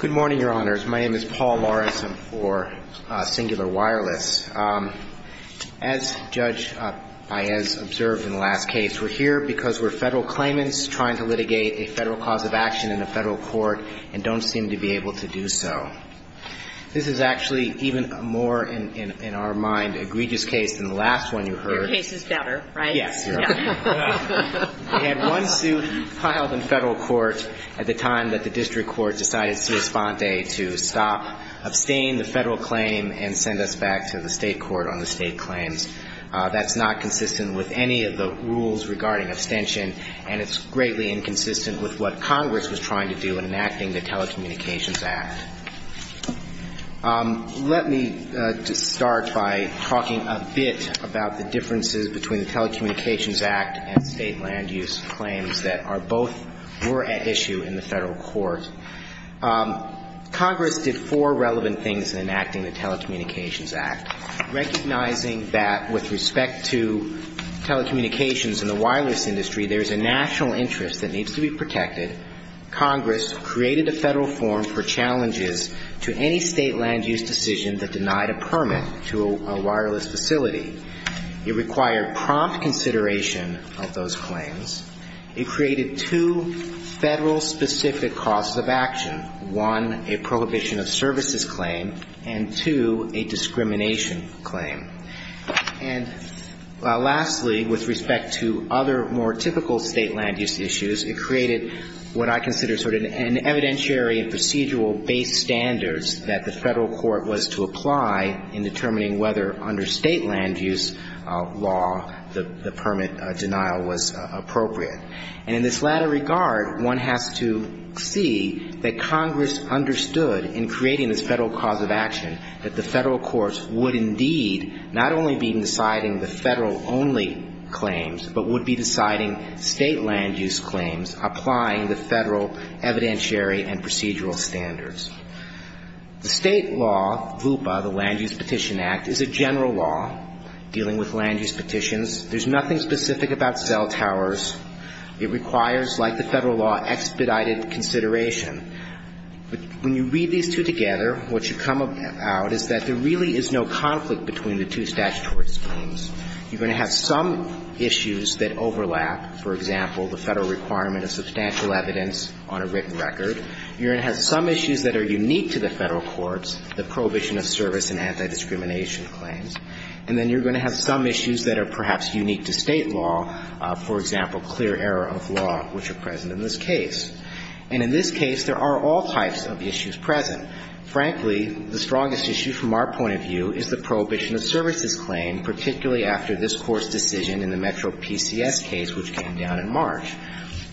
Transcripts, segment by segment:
Good morning, Your Honors. My name is Paul Morris. I'm for Cingular Wireless. As Judge Paez observed in the last case, we're here because we're federal claimants trying to litigate a federal cause of action in a federal court and don't seem to be able to do so. This is actually even more, in our mind, egregious case than the last one you heard. Your case is better, right? Yes, Your Honor. We had one suit piled in federal court at the time that the district court decided Ciasponte to stop, abstain the federal claim and send us back to the state court on the state claims. That's not consistent with any of the rules regarding abstention and it's greatly inconsistent with what Congress was trying to do in enacting the Telecommunications Act. Let me just start by talking a bit about the differences between the Telecommunications Act and state land use claims that are both were at issue in the federal court. Congress did four relevant things in enacting the Telecommunications Act, recognizing that with respect to telecommunications and the wireless industry, there's a national interest that needs to be protected. Congress created a federal form for challenging the Telecommunications Act. It required prompt consideration of those claims. It created two federal-specific causes of action. One, a prohibition of services claim, and two, a discrimination claim. And lastly, with respect to other, more typical state land use issues, it created what I consider sort of an evidentiary and procedural-based solution. And in this latter regard, one has to see that Congress understood, in creating this federal cause of action, that the federal courts would indeed not only be deciding the federal-only claims, but would be deciding state land use claims, applying the federal evidentiary and procedural standards. The state law, LUPA, the Land Use Petition Act, is a general law dealing with land use petitions. There's nothing specific about cell towers. It requires, like the federal law, expedited consideration. But when you read these two together, what you come about is that there really is no conflict between the two statutory schemes. You're going to have some issues that overlap. For example, the federal requirement of substantial evidence on a written record. You're going to have some issues that are unique to the two statutory schemes. They're unique to the federal courts, the prohibition of service and anti-discrimination claims. And then you're going to have some issues that are perhaps unique to state law. For example, clear error of law, which are present in this case. And in this case, there are all types of issues present. Frankly, the strongest issue, from our point of view, is the prohibition of services claim, particularly after this Court's decision in the Metro PCS case, which came down in March.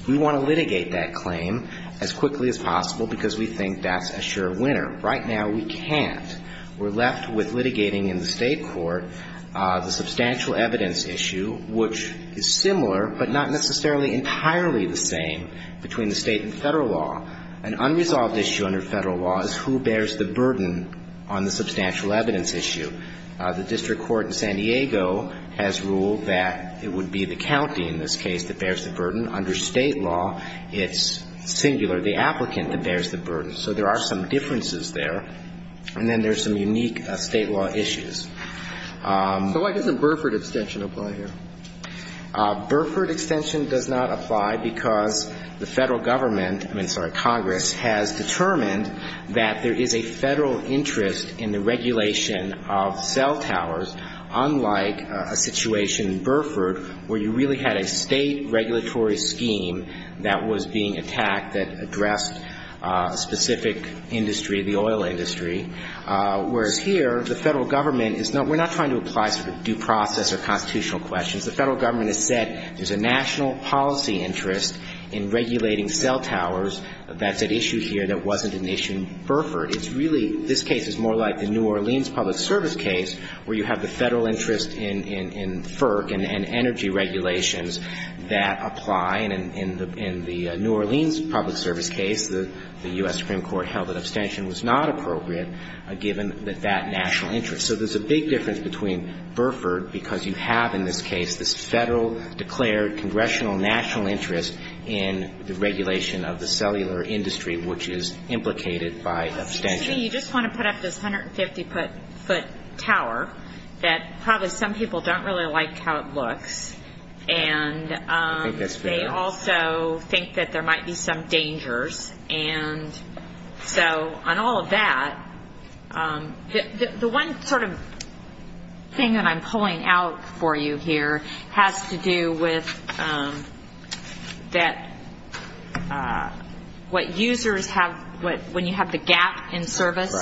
We want to litigate that claim as quickly as possible because we think that's a sure winner. Right now, we can't. We're left with litigating in the State court the substantial evidence issue, which is similar but not necessarily entirely the same between the State and federal law. An unresolved issue under federal law is who bears the burden on the substantial evidence issue. The district court in San Diego has ruled that it would be the county in this case that bears the burden. Under State law, it's singular, the applicant that bears the burden. So there are some differences there. And then there's some unique State law issues. So why doesn't Burford extension apply here? Burford extension does not apply because the federal government, I mean, sorry, Congress, has determined that there is a federal interest in the regulation of cell towers, unlike a situation in Burford where you really had a State regulatory scheme that was being attacked that addressed a specific industry, the oil industry. Whereas here, the federal government is not we're not trying to apply sort of due process or constitutional questions. The federal government has said there's a national policy interest in regulating cell towers that's at issue here that wasn't an issue in Burford. It's really this case is more like the New Orleans public service case where you have the federal interest in FERC and energy regulations that apply. And in the New Orleans public service case, the U.S. Supreme Court held that extension was not appropriate given that that national interest. So there's a big difference between Burford because you have in this case this federal declared congressional national interest in the regulation of the cellular industry, which is implicated by extension. You just want to put up this 150-foot tower that probably some people don't really like how it looks. And they also think that there might be some dangers. And so on all of that, the one sort of thing that I'm pulling out for you here has to do with that what users have when you have the gap in cell towers. And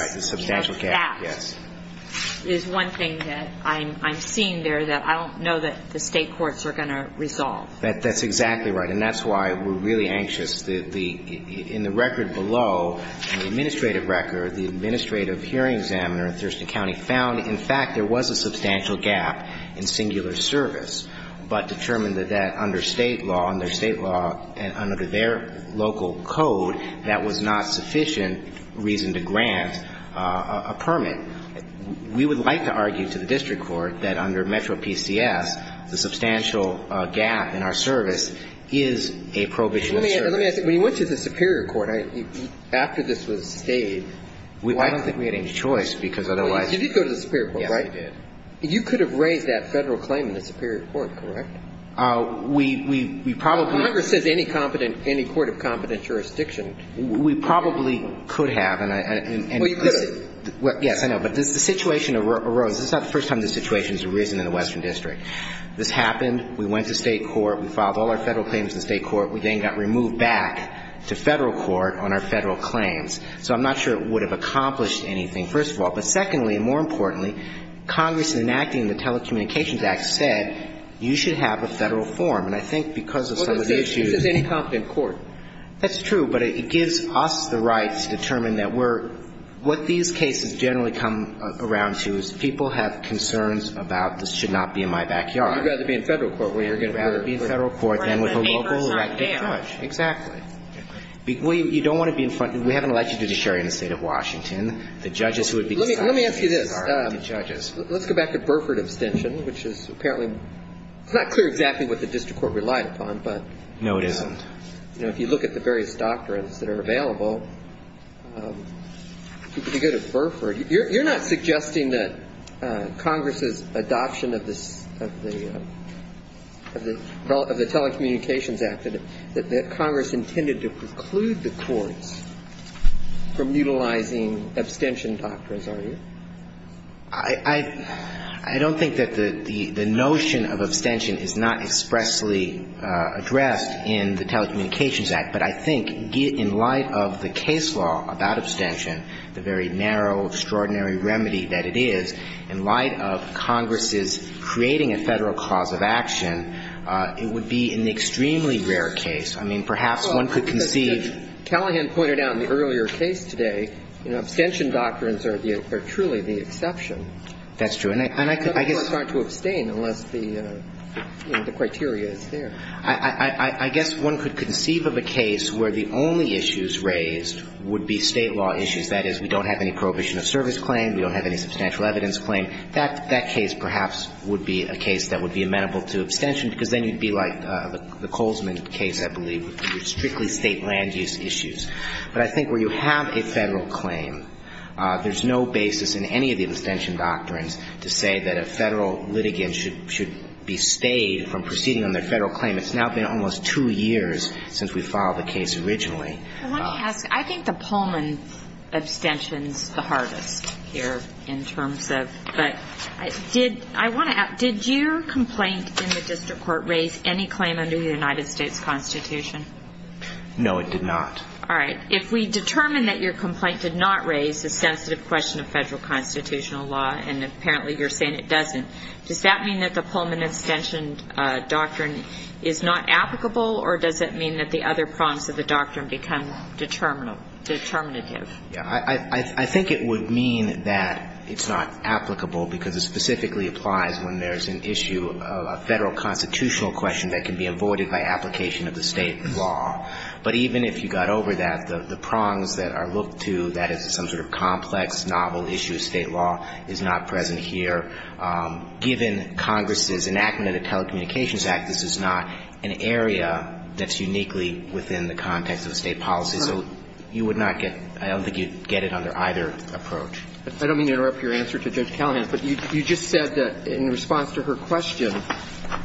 that's why we're really anxious. In the record below, in the administrative record, the administrative hearing examiner in Thurston County found, in fact, there was a substantial gap in singular service, but determined that that under State law, under State law and under their local code, that was not sufficient reason to grant a singular service. That was not sufficient reason to grant a permit. We would like to argue to the district court that under Metro PCS, the substantial gap in our service is a prohibition of service. Let me ask you, when you went to the superior court, after this was stayed, why? I don't think we had any choice because otherwise. You did go to the superior court, right? Yes, I did. You could have raised that Federal claim in the superior court, correct? We probably. Congress says any competent, any court of competent jurisdiction. We probably could have. Well, you could have. Yes, I know. But the situation arose. This is not the first time this situation has arisen in the Western District. This happened. We went to State court. We filed all our Federal claims in State court. We then got removed back to Federal court on our Federal claims. So I'm not sure it would have accomplished anything, first of all. But secondly, and more importantly, Congress, in enacting the Telecommunications Act, said you should have a Federal form. And I think because of some of the issues. Well, it says any competent court. That's true. But it gives us the right to determine that we're – what these cases generally come around to is people have concerns about this should not be in my backyard. You'd rather be in Federal court. Well, you're going to rather be in Federal court than with a local elected judge. Exactly. Well, you don't want to be in front – we haven't allowed you to do the sharing in the State of Washington. The judges who would be deciding the cases are the judges. Let me ask you this. Let's go back to Burford abstention, which is apparently – it's not clear exactly what the district court relied upon, but. No, it isn't. But, you know, if you look at the various doctrines that are available, if you go to Burford, you're not suggesting that Congress's adoption of the Telecommunications Act, that Congress intended to preclude the courts from utilizing abstention doctrines, are you? I don't think that the notion of abstention is not expressly addressed in the Telecommunications Act, but I think in light of the case law about abstention, the very narrow, extraordinary remedy that it is, in light of Congress's creating a Federal cause of action, it would be an extremely rare case. I mean, perhaps one could conceive. Well, as Callahan pointed out in the earlier case today, you know, abstention doctrines are the – are truly the exception. That's true. And I could – I guess. And other courts aren't to abstain unless the, you know, the criteria is there. I guess one could conceive of a case where the only issues raised would be State law issues. That is, we don't have any prohibition of service claim. We don't have any substantial evidence claim. That case perhaps would be a case that would be amenable to abstention, because then you'd be like the Colesman case, I believe, with strictly State land use issues. But I think where you have a Federal claim, there's no basis in any of the abstention doctrines to say that a Federal litigant should be stayed from proceeding on their Federal claim. It's now been almost two years since we filed the case originally. I want to ask. I think the Pullman abstention is the hardest here in terms of – but did – I want to ask, did your complaint in the district court raise any claim under the United States Constitution? No, it did not. All right. If we determine that your complaint did not raise a sensitive question of Federal constitutional law, and apparently you're saying it doesn't, does that mean that the Pullman abstention doctrine is not applicable, or does it mean that the other prongs of the doctrine become determinative? Yeah. I think it would mean that it's not applicable, because it specifically applies when there's an issue of a Federal constitutional question that can be avoided by application of the State law. But even if you got over that, the prongs that are looked to, that is some sort of complex, novel issue of State law, is not present here. Given Congress's enactment of the Telecommunications Act, this is not an area that's uniquely within the context of the State policy. So you would not get – I don't think you'd get it under either approach. I don't mean to interrupt your answer to Judge Callahan, but you just said that, in response to her question,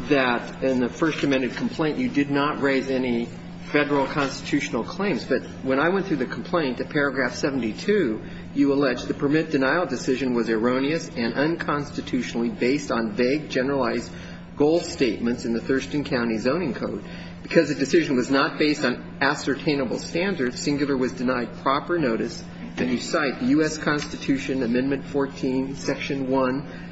that in the First Amendment complaint, you did not raise any Federal constitutional claims. But when I went through the complaint, at paragraph 72, you alleged the permit denial decision was erroneous and unconstitutionally based on vague, generalized goal statements in the Thurston County Zoning Code. Because the decision was not based on ascertainable standards, singular was denied proper notice. And you cite the U.S. Constitution, Amendment 14, Section 1.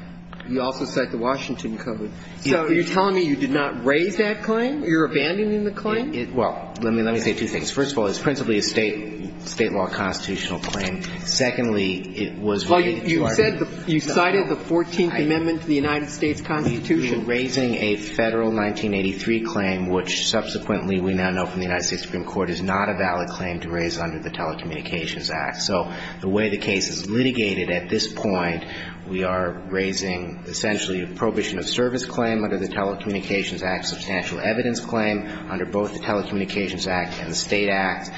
You also cite the Washington Code. So you're telling me you did not raise that claim? You're abandoning the claim? Well, let me say two things. First of all, it's principally a State law constitutional claim. Secondly, it was related to our – Well, you said – you cited the 14th Amendment to the United States Constitution. We were raising a Federal 1983 claim, which subsequently we now know from the United States Supreme Court is not a valid claim to raise under the Telecommunications Act. So the way the case is litigated at this point, we are raising essentially a prohibition of service claim under the Telecommunications Act, substantial evidence claim under both the Telecommunications Act and the State Act,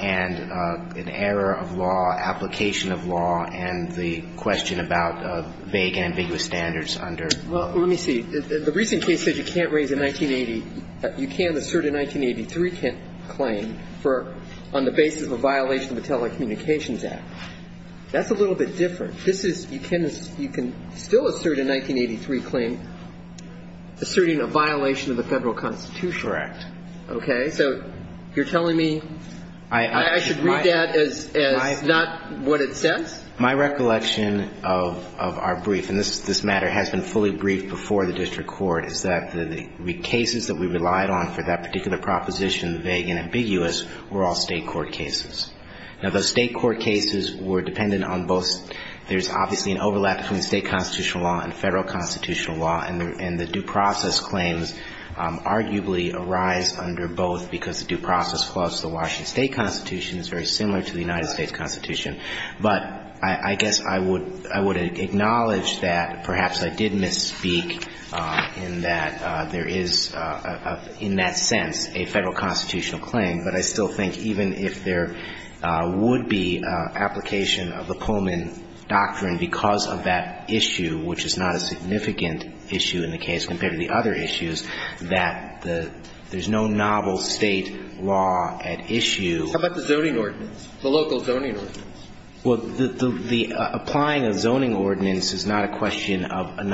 and an error of law, application of law, and the question about vague and ambiguous standards under – Well, let me see. The recent case says you can't raise a 1980 – you can assert a 1983 claim for – on the basis of a violation of the Telecommunications Act. That's a little bit different. This is – you can still assert a 1983 claim asserting a violation of the Federal Constitution. Correct. Okay? So you're telling me I should read that as not what it says? My recollection of our brief – and this matter has been fully briefed before the district court – is that the cases that we relied on for that particular proposition, vague and ambiguous, were all State court cases. Now, those State court cases were dependent on both – there's obviously an overlap between State constitutional law and Federal constitutional law, and the due process claims arguably arise under both because the due process clause of the Washington State Constitution is very similar to the United States Constitution. But I guess I would – I would acknowledge that perhaps I did misspeak in that there is, in that sense, a Federal constitutional claim. But I still think even if there would be application of the Pullman doctrine because of that issue, which is not a significant issue in the case compared to the other issues, that the – there's no novel State law at issue. How about the zoning ordinance, the local zoning ordinance? Well, the – the applying a zoning ordinance is not a question of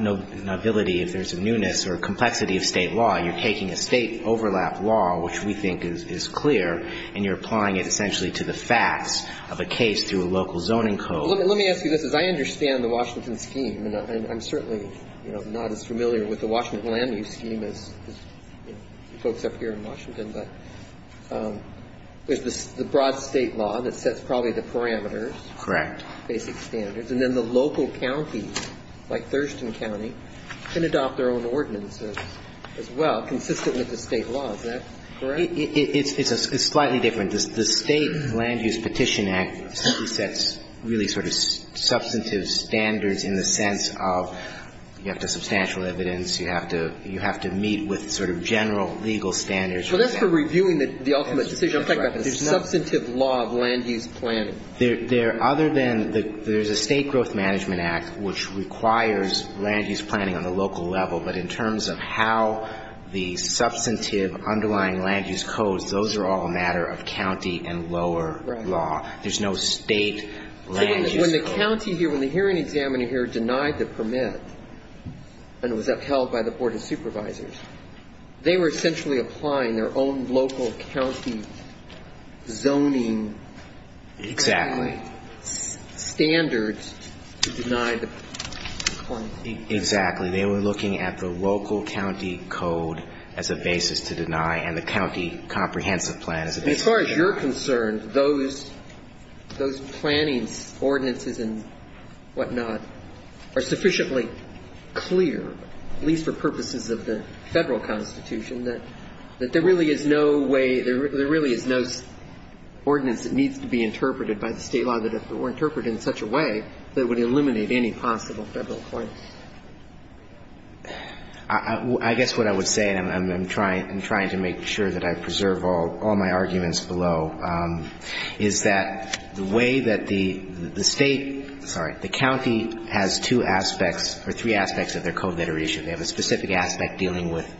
nobility if there's a newness or complexity of State law. You're taking a State overlap law, which we think is clear, and you're applying it essentially to the facts of a case through a local zoning code. Well, let me ask you this. As I understand the Washington scheme, and I'm certainly, you know, not as familiar with the Washington land use scheme as folks up here in Washington, but there's the broad State law that sets probably the parameters. Correct. Basic standards. And then the local counties, like Thurston County, can adopt their own ordinances as well, consistent with the State law. Is that correct? It's slightly different. The State Land Use Petition Act simply sets really sort of substantive standards in the sense of you have to have substantial evidence, you have to meet with sort of general legal standards. Well, that's for reviewing the ultimate decision. I'm talking about the substantive law of land use planning. Other than the – there's a State Growth Management Act, which requires land use planning on the local level. But in terms of how the substantive underlying land use codes, those are all a matter of county and lower law. There's no State land use code. When the county here, when the hearing examiner here denied the permit and it was upheld by the Board of Supervisors, they were essentially applying their own local county zoning standards to deny the permit. Exactly. Exactly. They were looking at the local county code as a basis to deny and the county comprehensive plan as a basis to deny. As far as you're concerned, those planning ordinances and whatnot are sufficiently clear, at least for purposes of the Federal Constitution, that there really is no way – there really is no ordinance that needs to be interpreted by the State law that were interpreted in such a way that would eliminate any possible Federal claim. I guess what I would say, and I'm trying to make sure that I preserve all my arguments below, is that the way that the State – sorry, the county has two aspects or three aspects of their code that are issued. They have a specific aspect dealing with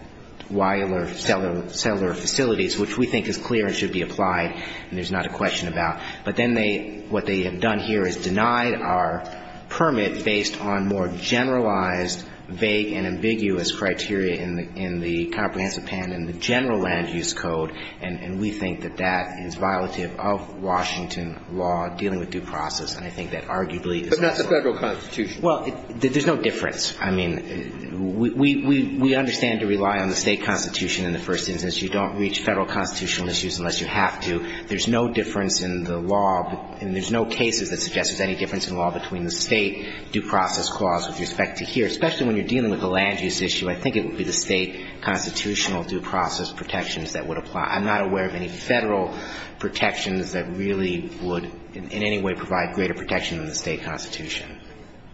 wilder settler facilities, which we think is clear and should be applied and there's not a question about. But then they – what they have done here is denied our permit based on more generalized, vague and ambiguous criteria in the comprehensive plan and the general land use code, and we think that that is violative of Washington law dealing with due process, and I think that arguably is possible. But not the Federal Constitution. Well, there's no difference. I mean, we understand to rely on the State constitution in the first instance. You don't reach Federal constitutional issues unless you have to. There's no difference in the law, and there's no cases that suggest there's any difference in law between the State due process clause with respect to here. Especially when you're dealing with the land use issue, I think it would be the State constitutional due process protections that would apply. I'm not aware of any Federal protections that really would in any way provide greater protection than the State constitution.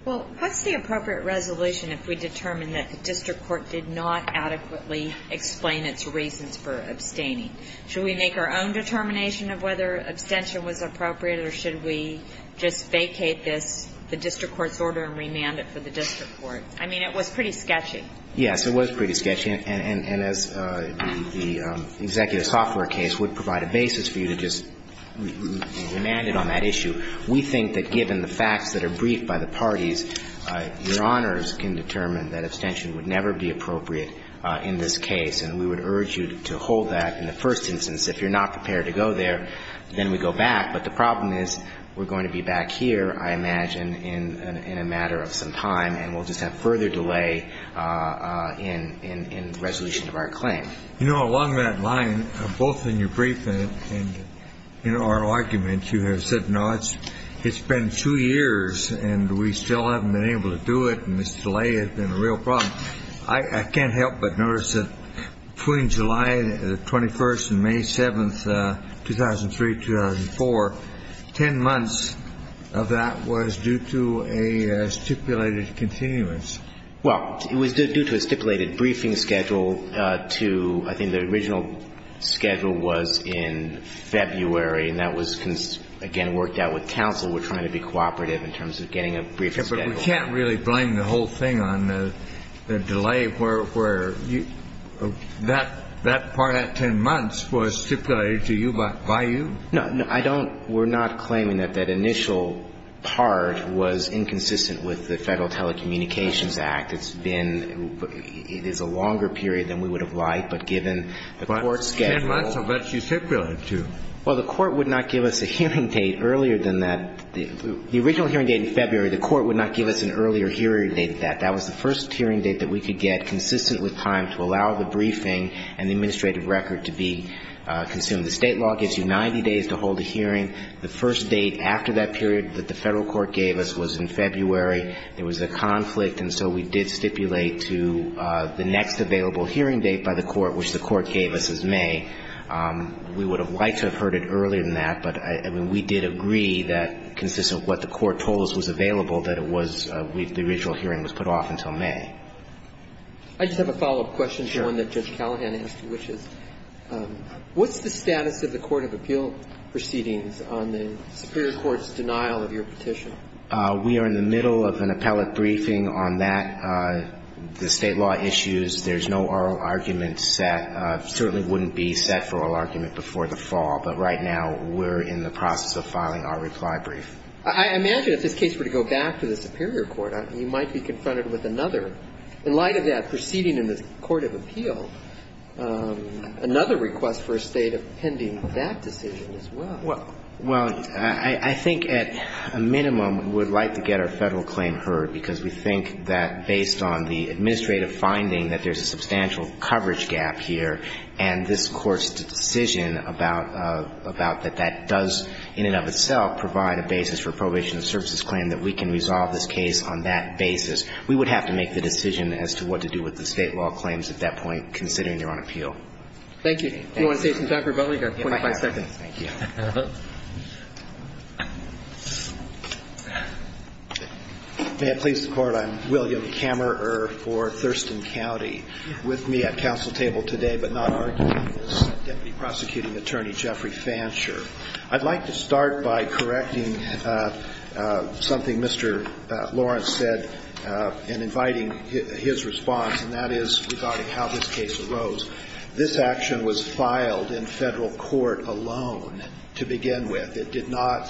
Well, what's the appropriate resolution if we determine that the district court did not adequately explain its reasons for abstaining? Should we make our own determination of whether abstention was appropriate or should we just vacate this, the district court's order and remand it for the district court? I mean, it was pretty sketchy. Yes, it was pretty sketchy. And as the executive software case would provide a basis for you to just remand it on that issue, we think that given the facts that are briefed by the parties, Your Honors can determine that abstention would never be appropriate in this case. And we would urge you to hold that in the first instance. If you're not prepared to go there, then we go back. But the problem is we're going to be back here, I imagine, in a matter of some time, and we'll just have further delay in resolution of our claim. You know, along that line, both in your briefing and in our argument, you have said, no, it's been two years and we still haven't been able to do it and this delay has been a real problem. I can't help but notice that between July 21st and May 7th, 2003-2004, ten months of that was due to a stipulated continuance. Well, it was due to a stipulated briefing schedule to, I think the original schedule was in February, and that was, again, worked out with counsel. We're trying to be cooperative in terms of getting a brief schedule. But we can't really blame the whole thing on the delay where that part of ten months was stipulated to you by you? No. I don't – we're not claiming that that initial part was inconsistent with the Federal Telecommunications Act. It's been – it is a longer period than we would have liked, but given the court's schedule. But ten months of that stipulated to. Well, the court would not give us a hearing date earlier than that. The original hearing date in February, the court would not give us an earlier hearing date than that. That was the first hearing date that we could get consistent with time to allow the briefing and the administrative record to be consumed. The State law gives you 90 days to hold a hearing. The first date after that period that the Federal court gave us was in February. There was a conflict, and so we did stipulate to the next available hearing date by the court, which the court gave us as May. We would have liked to have heard it earlier than that, but, I mean, we did agree that, consistent with what the court told us was available, that it was – the original hearing was put off until May. I just have a follow-up question to one that Judge Callahan asked you, which is what's the status of the court of appeal proceedings on the superior court's denial of your petition? We are in the middle of an appellate briefing on that. The State law issues. There's no oral argument set – certainly wouldn't be set for oral argument before the fall. But right now, we're in the process of filing our reply brief. I imagine if this case were to go back to the superior court, you might be confronted with another. In light of that, proceeding in the court of appeal, another request for a State of pending that decision as well. Well, I think at a minimum, we would like to get our Federal claim heard, because we think that based on the administrative finding that there's a substantial coverage gap here, and this Court's decision about that that does, in and of itself, provide a basis for probation and services claim, that we can resolve this case on that basis. We would have to make the decision as to what to do with the State law claims at that point, considering they're on appeal. Thank you. Do you want to say something, Dr. Butler? You have 25 seconds. Thank you. May it please the Court. I'm William Kammerer for Thurston County. With me at council table today, but not arguing, is Deputy Prosecuting Attorney Jeffrey Fansher. I'd like to start by correcting something Mr. Lawrence said in inviting his response, and that is regarding how this case arose. This action was filed in Federal court alone to begin with. It did not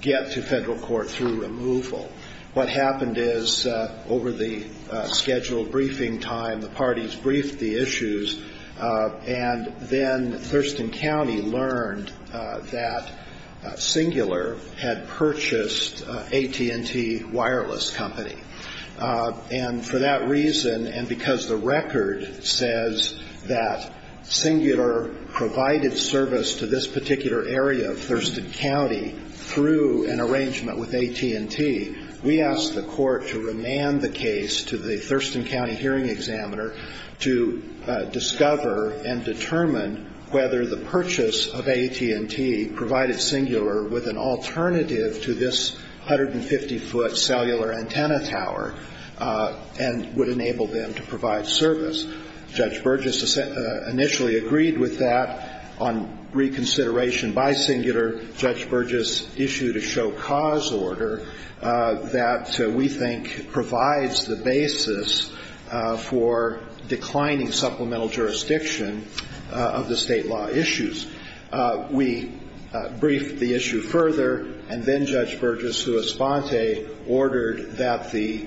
get to Federal court through removal. What happened is, over the scheduled briefing time, the parties briefed the issues, and then Thurston County learned that Singular had purchased AT&T Wireless Company. And for that reason, and because the record says that Singular provided service to this particular area of Thurston County through an arrangement with AT&T, we asked the court to remand the case to the Thurston County hearing examiner to discover and determine whether the purchase of AT&T provided Singular with an alternative to this 150-foot cellular antenna tower and would enable them to provide service. Judge Burgess initially agreed with that. On reconsideration by Singular, Judge Burgess issued a show cause order that we think provides the basis for declining supplemental jurisdiction of the state law issues. We briefed the issue further, and then Judge Burgess, who was sponte, ordered that the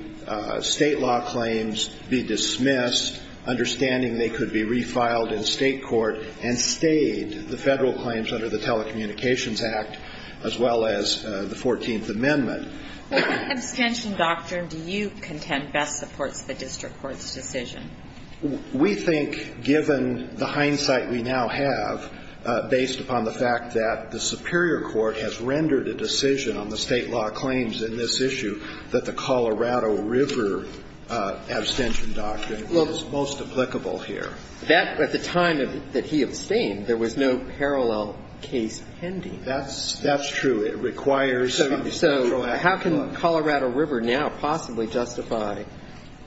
state law claims be dismissed, understanding they could be refiled in state court, and stayed the Federal claims under the Telecommunications Act, as well as the 14th Amendment. What abstention doctrine do you contend best supports the district court's decision? We think, given the hindsight we now have, based upon the fact that the superior court has rendered a decision on the state law claims in this issue, that the Colorado River abstention doctrine is most applicable here. That, at the time that he abstained, there was no parallel case pending. That's true. It requires a neutral act. So how can Colorado River now possibly justify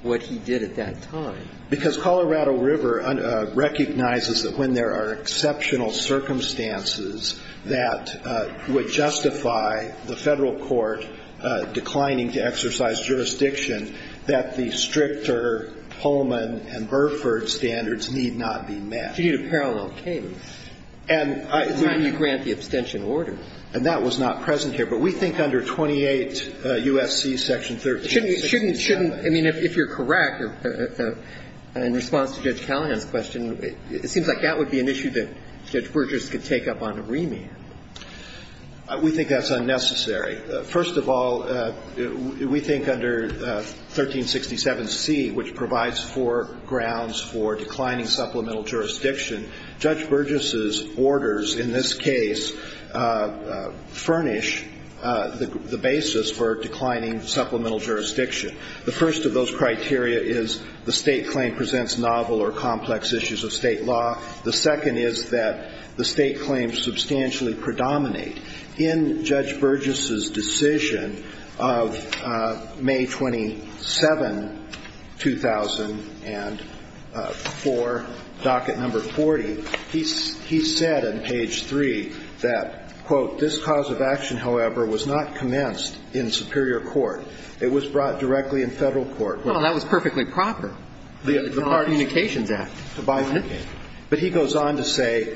what he did at that time? Because Colorado River recognizes that when there are exceptional circumstances that would justify the Federal court declining to exercise jurisdiction, that the stricter Pullman and Burford standards need not be met. You need a parallel case. At the time you grant the abstention order. And that was not present here. But we think under 28 U.S.C. section 1367. Shouldn't you – I mean, if you're correct, in response to Judge Callahan's question, it seems like that would be an issue that Judge Burgess could take up on a remand. We think that's unnecessary. First of all, we think under 1367C, which provides for grounds for declining supplemental jurisdiction, Judge Burgess's orders in this case furnish the basis for declining supplemental jurisdiction. The first of those criteria is the State claim presents novel or complex issues of State law. The second is that the State claims substantially predominate in Judge Burgess's decision of May 27, 2004, docket number 40. He said on page 3 that, quote, this cause of action, however, was not commenced in superior court. It was brought directly in Federal court. Well, that was perfectly proper. The Communications Act. But he goes on to say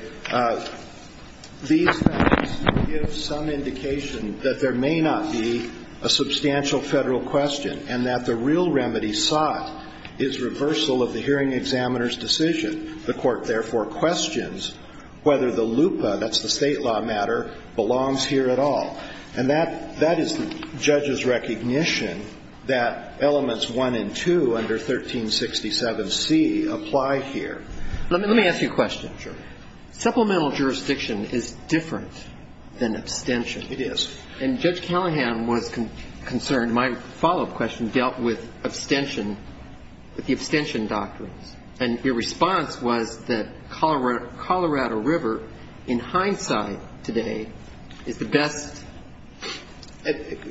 these facts give some indication that there may not be a substantial Federal question and that the real remedy sought is reversal of the hearing examiner's decision. The Court, therefore, questions whether the LUPA, that's the State law matter, belongs here at all. And that is the judge's recognition that elements 1 and 2 under 1367C apply here. Let me ask you a question. Sure. Supplemental jurisdiction is different than abstention. It is. And Judge Callahan was concerned. My follow-up question dealt with abstention, with the abstention doctrines. And your response was that Colorado River, in hindsight today, is the best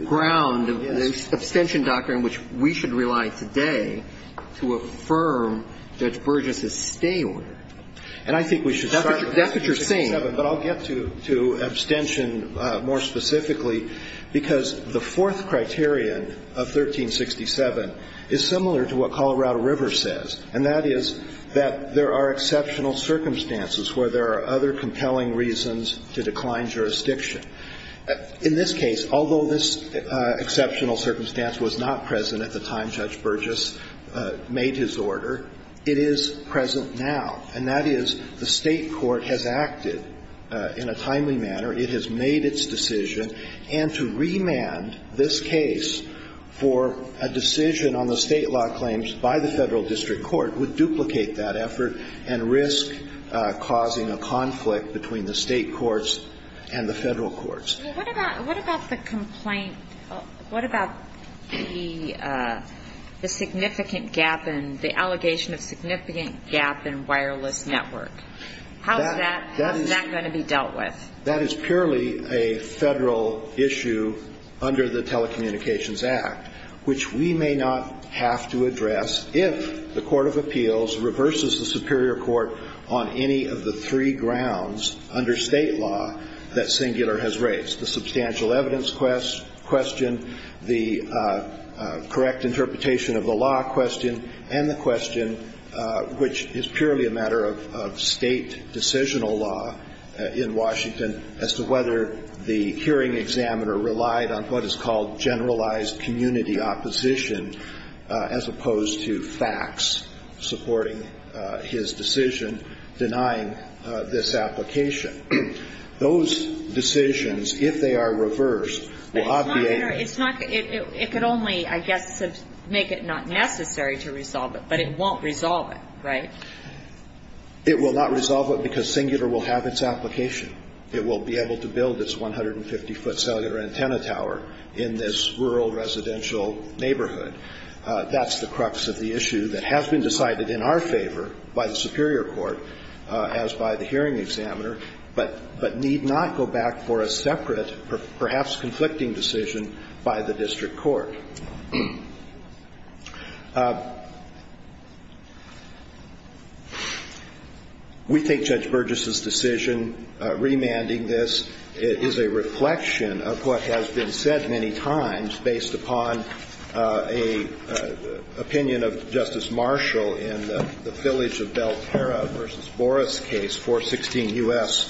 ground of the abstention doctrine which we should rely today to affirm Judge Burgess' stay order. And I think we should start with 1367, but I'll get to abstention more specifically because the fourth criterion of 1367 is similar to what Colorado River says, and that is that there are exceptional circumstances where there are other compelling reasons to decline jurisdiction. In this case, although this exceptional circumstance was not present at the time Judge Burgess made his order, it is present now. And that is the State court has acted in a timely manner. It has made its decision. And to remand this case for a decision on the State law claims by the Federal District Court would duplicate that effort and risk causing a conflict between the State courts and the Federal courts. Well, what about the complaint, what about the significant gap in, the allegation of significant gap in wireless network? How is that going to be dealt with? That is purely a Federal issue under the Telecommunications Act, which we may not have to address if the court of appeals reverses the superior court on any of the three grounds under State law that Singular has raised, the substantial evidence question, the correct interpretation of the law question, and the question, which is purely a matter of State decisional law in Washington, as to whether the hearing examiner relied on what is called generalized community opposition as opposed to facts supporting his decision denying this application. Those decisions, if they are reversed, will obviate. But it's not going to, it could only, I guess, make it not necessary to resolve it, but it won't resolve it, right? It will not resolve it because Singular will have its application. It will be able to build its 150-foot cellular antenna tower in this rural residential neighborhood. That's the crux of the issue that has been decided in our favor by the superior court, as by the hearing examiner, but need not go back for a separate, perhaps conflicting decision by the district court. We think Judge Burgess's decision remanding this is a reflection of what has been said many times based upon an opinion of Justice Marshall in the Village of Belterra v. Boris case, 416 U.S.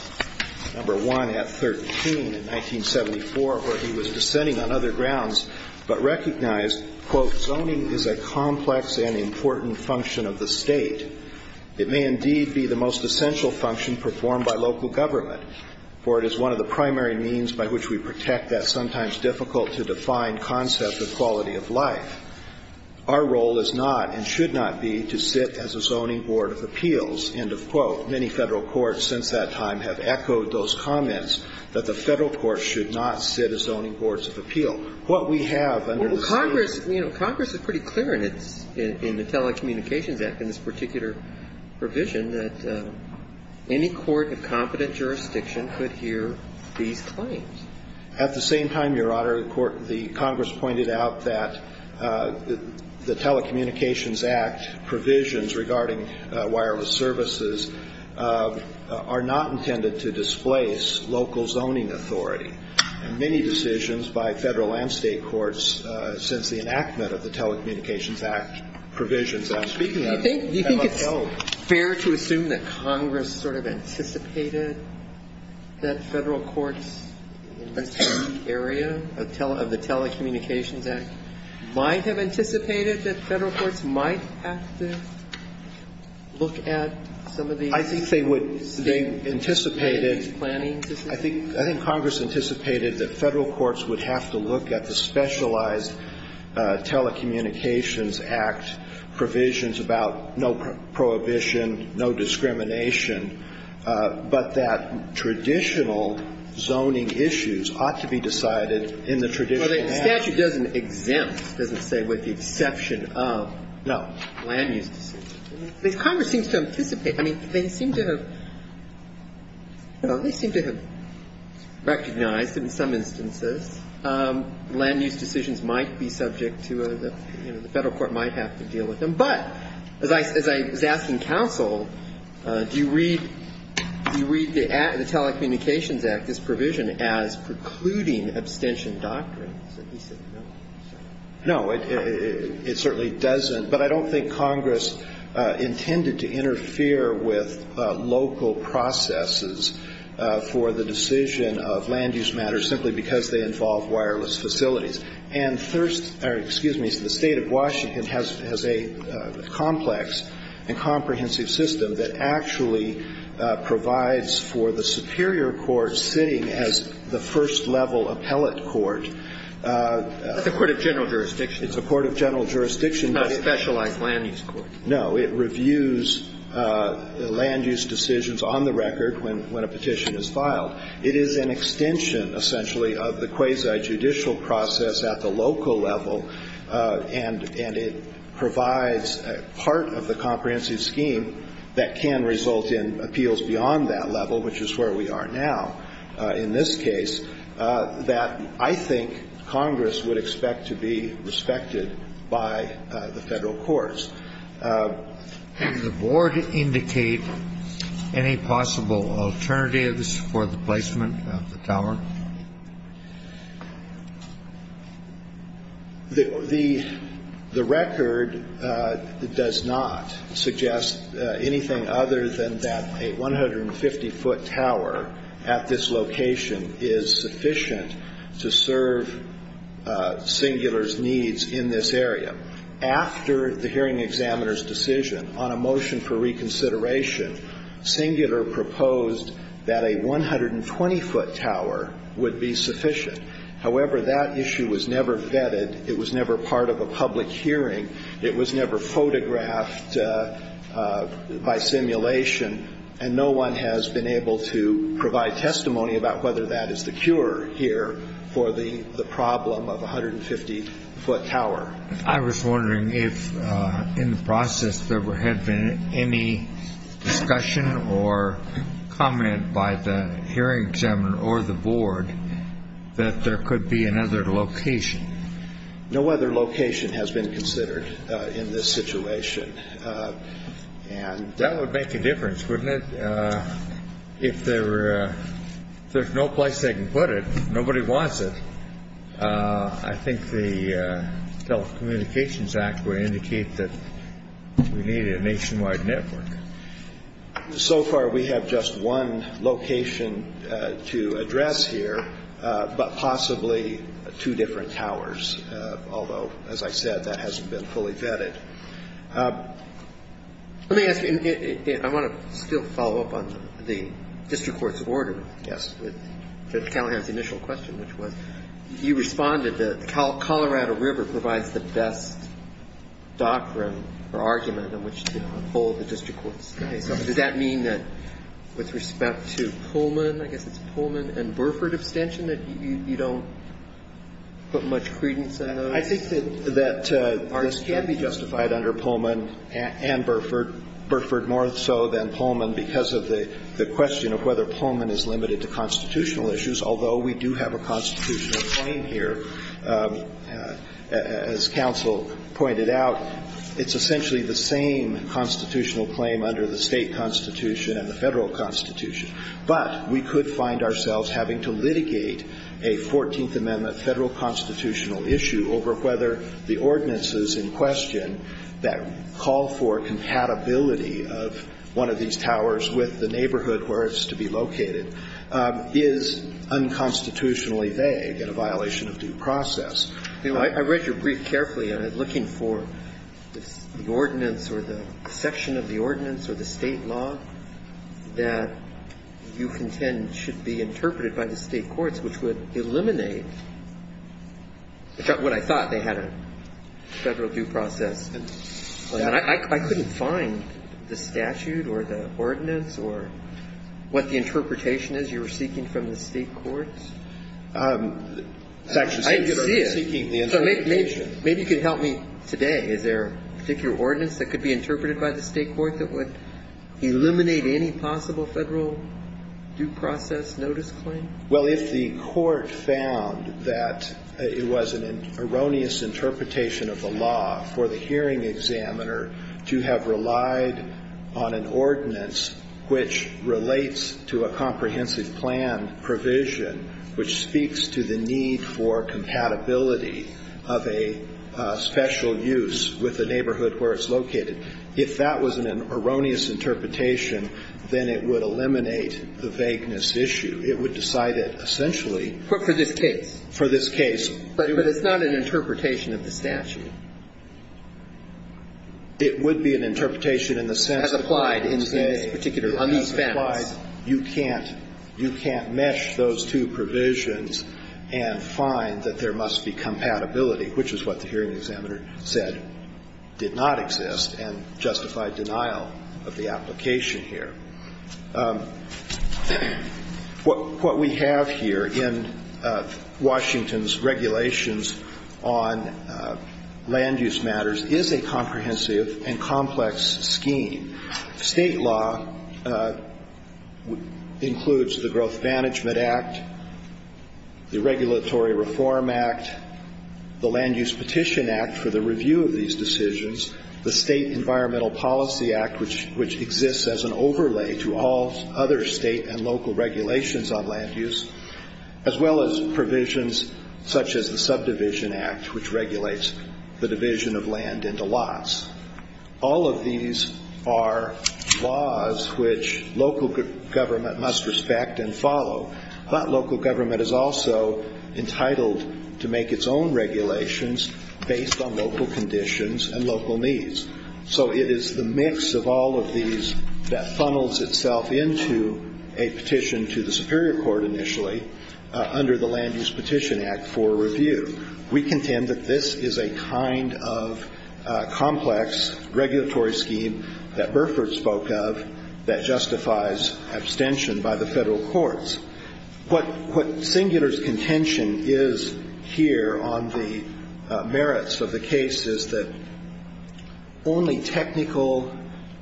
No. 1 at 13 in 1974, where he was dissenting on other grounds, but recognized, quote, zoning is a complex and important function of the State. It may indeed be the most essential function performed by local government, for it is one of the primary means by which we protect that sometimes difficult to define concept of quality of life. Our role is not, and should not be, to sit as a zoning board of appeals, end of quote. Many Federal courts since that time have echoed those comments that the Federal courts should not sit as zoning boards of appeal. What we have under the State of the State of the State of the State of the State of the State makes it most difficult to engage brains in that survey 滑 And many decisions by Federal and State courts since the enactment of the Telecommunications Act provision that I'm speaking of have appeal. Is it fair to assume that Congress sort of anticipated that Federal courts in this area of the Telecommunications Act might have anticipated that Federal courts might have to look at some of these? I think Congress anticipated that Federal courts would have to look at the specialized Telecommunications Act provisions about no prohibition, no discrimination, but that traditional zoning issues ought to be decided in the traditional act. Well, the statute doesn't exempt, it doesn't say with the exception of. No. Land use decisions. I mean, Congress seems to anticipate. I mean, they seem to have recognized that in some instances land use decisions might be subject to a, you know, the Federal court might have to deal with them. But as I was asking counsel, do you read the Telecommunications Act, this provision as precluding abstention doctrine? He said no. No, it certainly doesn't. But I don't think Congress intended to interfere with local processes for the decision of land use matters simply because they involve wireless facilities. And the State of Washington has a complex and comprehensive system that actually provides for the superior court sitting as the first level appellate court. It's a court of general jurisdiction. It's a court of general jurisdiction. It's not a specialized land use court. No. It reviews land use decisions on the record when a petition is filed. It is an extension, essentially, of the quasi-judicial process at the local level, and it provides part of the comprehensive scheme that can result in appeals beyond that level, which is where we are now in this case, that I think Congress would expect to be respected by the Federal courts. The board indicate any possible alternatives for the placement of the tower? The record does not suggest anything other than that a 150-foot tower at this location is sufficient to serve Singular's needs in this area. After the hearing examiner's decision on a motion for reconsideration, Singular proposed that a 120-foot tower would be sufficient. However, that issue was never vetted. It was never part of a public hearing. It was never photographed by simulation, and no one has been able to provide testimony about whether that is the cure here for the problem of a 150-foot tower. I was wondering if in the process there had been any discussion or comment by the hearing examiner or the board that there could be another location. No other location has been considered in this situation, and that would make a difference, wouldn't it? If there's no place they can put it, nobody wants it, I think the Telecommunications Act would indicate that we need a nationwide network. So far we have just one location to address here, but possibly two different towers, although, as I said, that hasn't been fully vetted. Let me ask you, and I want to still follow up on the district court's order with Callahan's initial question, which was, you responded that Colorado River provides the best doctrine or argument in which to uphold the district court's case. Does that mean that with respect to Pullman, I guess it's Pullman and Burford abstention, that you don't put much credence in those? I think that this can be justified under Pullman and Burford, Burford more so than Pullman, because of the question of whether Pullman is limited to constitutional issues, although we do have a constitutional claim here. As counsel pointed out, it's essentially the same constitutional claim under the State Constitution and the Federal Constitution. But we could find ourselves having to litigate a 14th Amendment Federal constitutional issue over whether the ordinances in question that call for compatibility of one of these towers with the neighborhood where it's to be located is unconstitutionally vague and a violation of due process. I read your brief carefully, and I'm looking for the ordinance or the section of the ordinance or the State law that you contend should be interpreted by the State courts, which would eliminate what I thought they had, a Federal due process. And I couldn't find the statute or the ordinance or what the interpretation is you were seeking from the State courts. I didn't see it. Maybe you could help me today. Is there a particular ordinance that could be interpreted by the State court that would eliminate any possible Federal due process notice claim? Well, if the court found that it was an erroneous interpretation of the law for the hearing examiner to have relied on an ordinance which relates to a comprehensive plan provision which speaks to the need for compatibility of a special use with the neighborhood where it's located. If that was an erroneous interpretation, then it would eliminate the vagueness issue. It would decide it essentially. But for this case. For this case. But it's not an interpretation of the statute. It would be an interpretation in the sense that. Has applied in this particular, on these families. It has applied. You can't mesh those two provisions and find that there must be compatibility, which is what the hearing examiner said did not exist and justified denial of the application here. What we have here in Washington's regulations on land use matters is a comprehensive and complex scheme. State law includes the Growth Management Act, the Regulatory Reform Act, and the Land Use Petition Act for the review of these decisions, the State Environmental Policy Act, which exists as an overlay to all other state and local regulations on land use, as well as provisions such as the Subdivision Act, which regulates the division of land into lots. All of these are laws which local government must respect and follow. But local government is also entitled to make its own regulations based on local conditions and local needs. So it is the mix of all of these that funnels itself into a petition to the Superior Court initially under the Land Use Petition Act for review. We contend that this is a kind of complex regulatory scheme that Burford spoke of that justifies abstention by the Federal courts. What Singular's contention is here on the merits of the case is that only technical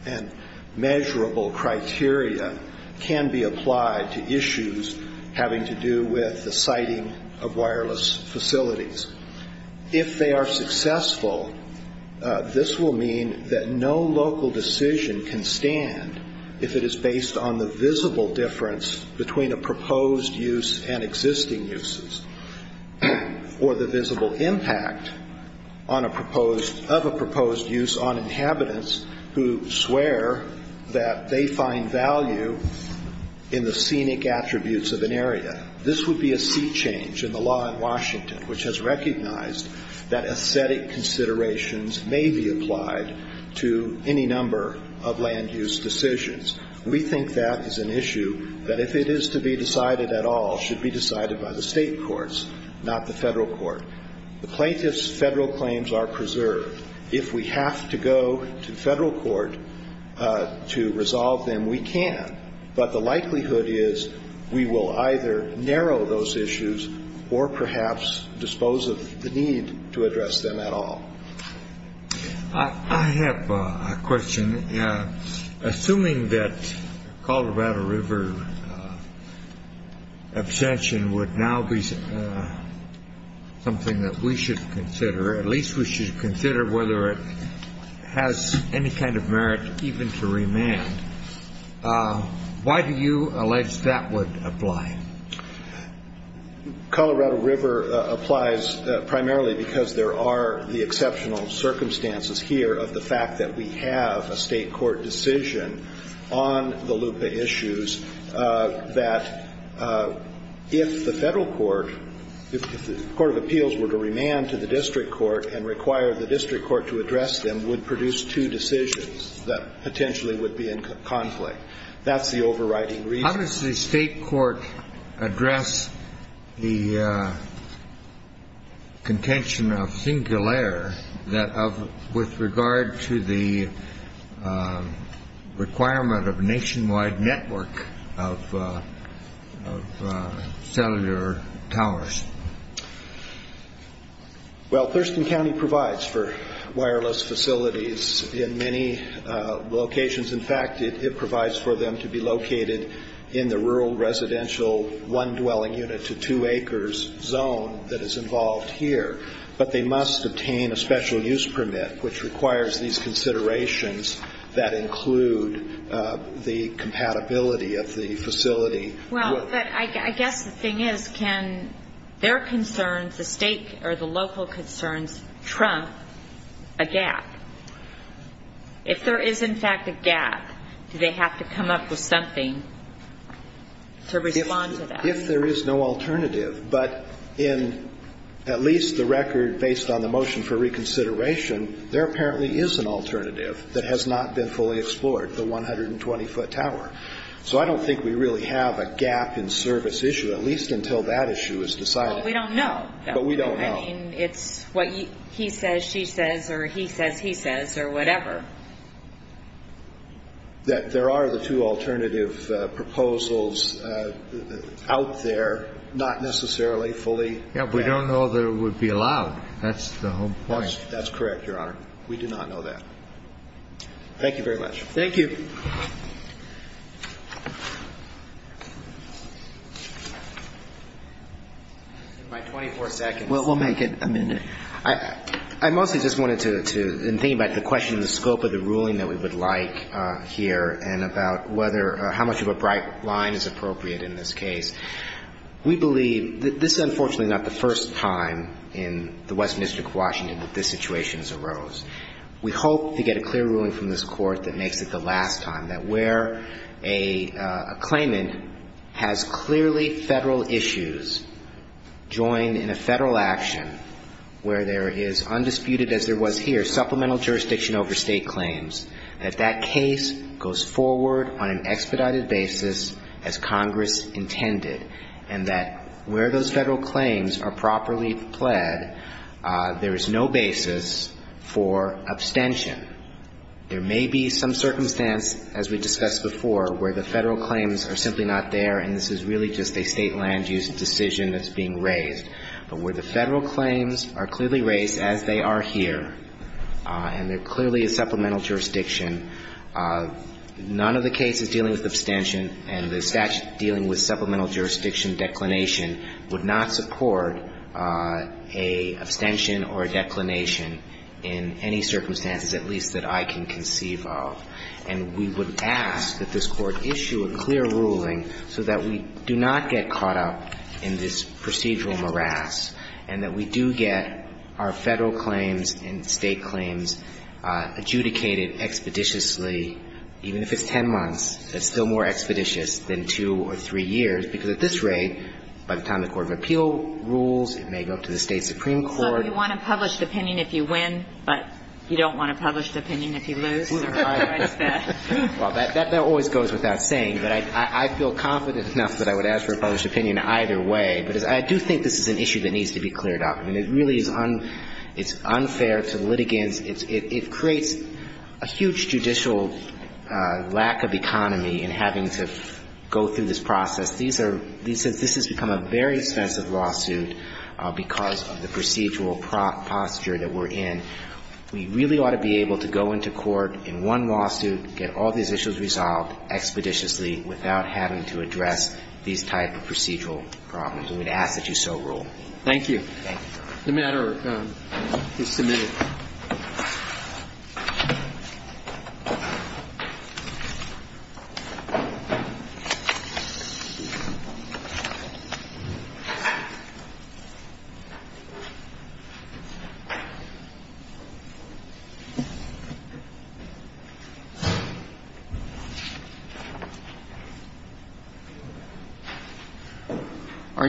and measurable criteria can be applied to issues having to do with the siting of wireless facilities. If they are successful, this will mean that no local decision can stand if it is based on the visible difference between a proposed use and existing uses, or the visible impact of a proposed use on inhabitants who swear that they find value in the scenic attributes of an area. This would be a sea change in the law in Washington, which has recognized that aesthetic considerations may be applied to any number of land use decisions. We think that is an issue that, if it is to be decided at all, should be decided by the State courts, not the Federal court. The plaintiff's Federal claims are preserved. If we have to go to Federal court to resolve them, we can. But the likelihood is we will either narrow those issues or perhaps dispose of the need to address them at all. I have a question. Assuming that Colorado River abstention would now be something that we should consider, at least we should consider whether it has any kind of merit even to remand, why do you allege that would apply? Colorado River applies primarily because there are the exceptional circumstances here of the fact that we have a State court decision on the LUPA issues that, if the Federal court, if the court of appeals were to remand to the District court and require the District court to address them, would produce two decisions that potentially would be in conflict. That's the overriding reason. How does the State court address the contention of singulaire with regard to the requirement of a nationwide network of cellular towers? Well, Thurston County provides for wireless facilities in many locations. In fact, it provides for them to be located in the rural residential one-dwelling unit to two acres zone that is involved here. But they must obtain a special use permit, which requires these considerations that include the compatibility of the facility. Well, but I guess the thing is, can their concerns, the State or the local concerns, trump a gap? If there is, in fact, a gap, do they have to come up with something to respond to that? If there is no alternative. But in at least the record based on the motion for reconsideration, there apparently is an alternative that has not been fully explored, the 120-foot tower. So I don't think we really have a gap in service issue, at least until that issue is decided. But we don't know. I mean, it's what he says, she says, or he says, he says, or whatever. That there are the two alternative proposals out there, not necessarily fully. Yeah, we don't know that it would be allowed. That's the whole point. That's correct, Your Honor. We do not know that. Thank you very much. Thank you. My 24 seconds. We'll make it a minute. I mostly just wanted to, in thinking about the question of the scope of the ruling that we would like here and about whether, how much of a bright line is appropriate in this case, we believe that this is unfortunately not the first time in the Western District of Washington that this situation has arose. We hope to get a clear ruling from this Court that makes it the last time, that where a claimant has clearly Federal issues joined in a Federal action, where there is undisputed, as there was here, supplemental jurisdiction over State claims, that that case goes forward on an expedited, expedited basis as Congress intended, and that where those Federal claims are properly pled, there is no basis for abstention. There may be some circumstance, as we discussed before, where the Federal claims are simply not there, and this is really just a State land use decision that's being raised. But where the Federal claims are clearly raised, as they are here, and they're clearly a supplemental jurisdiction, none of the cases dealing with abstention and the statute dealing with supplemental jurisdiction declination would not support a abstention or a declination in any circumstances, at least that I can conceive of. And we would ask that this Court issue a clear ruling so that we do not get caught up in this procedural morass and that we do get our Federal claims and State claims adjudicated expeditiously, even if it's 10 months, it's still more expeditious than two or three years, because at this rate, by the time the Court of Appeal rules, it may go to the State Supreme Court. So you want a published opinion if you win, but you don't want a published opinion if you lose? Well, that always goes without saying, but I feel confident enough that I would ask for a published opinion either way. But I do think this is an issue that needs to be cleared up. I mean, it really is unfair to litigants. It creates a huge judicial lack of economy in having to go through this process. These are – this has become a very expensive lawsuit because of the procedural posture that we're in. We really ought to be able to go into court in one lawsuit, get all these issues resolved expeditiously without having to address these type of procedural problems. And we'd ask that you so rule. Thank you. The matter is submitted. Thank you.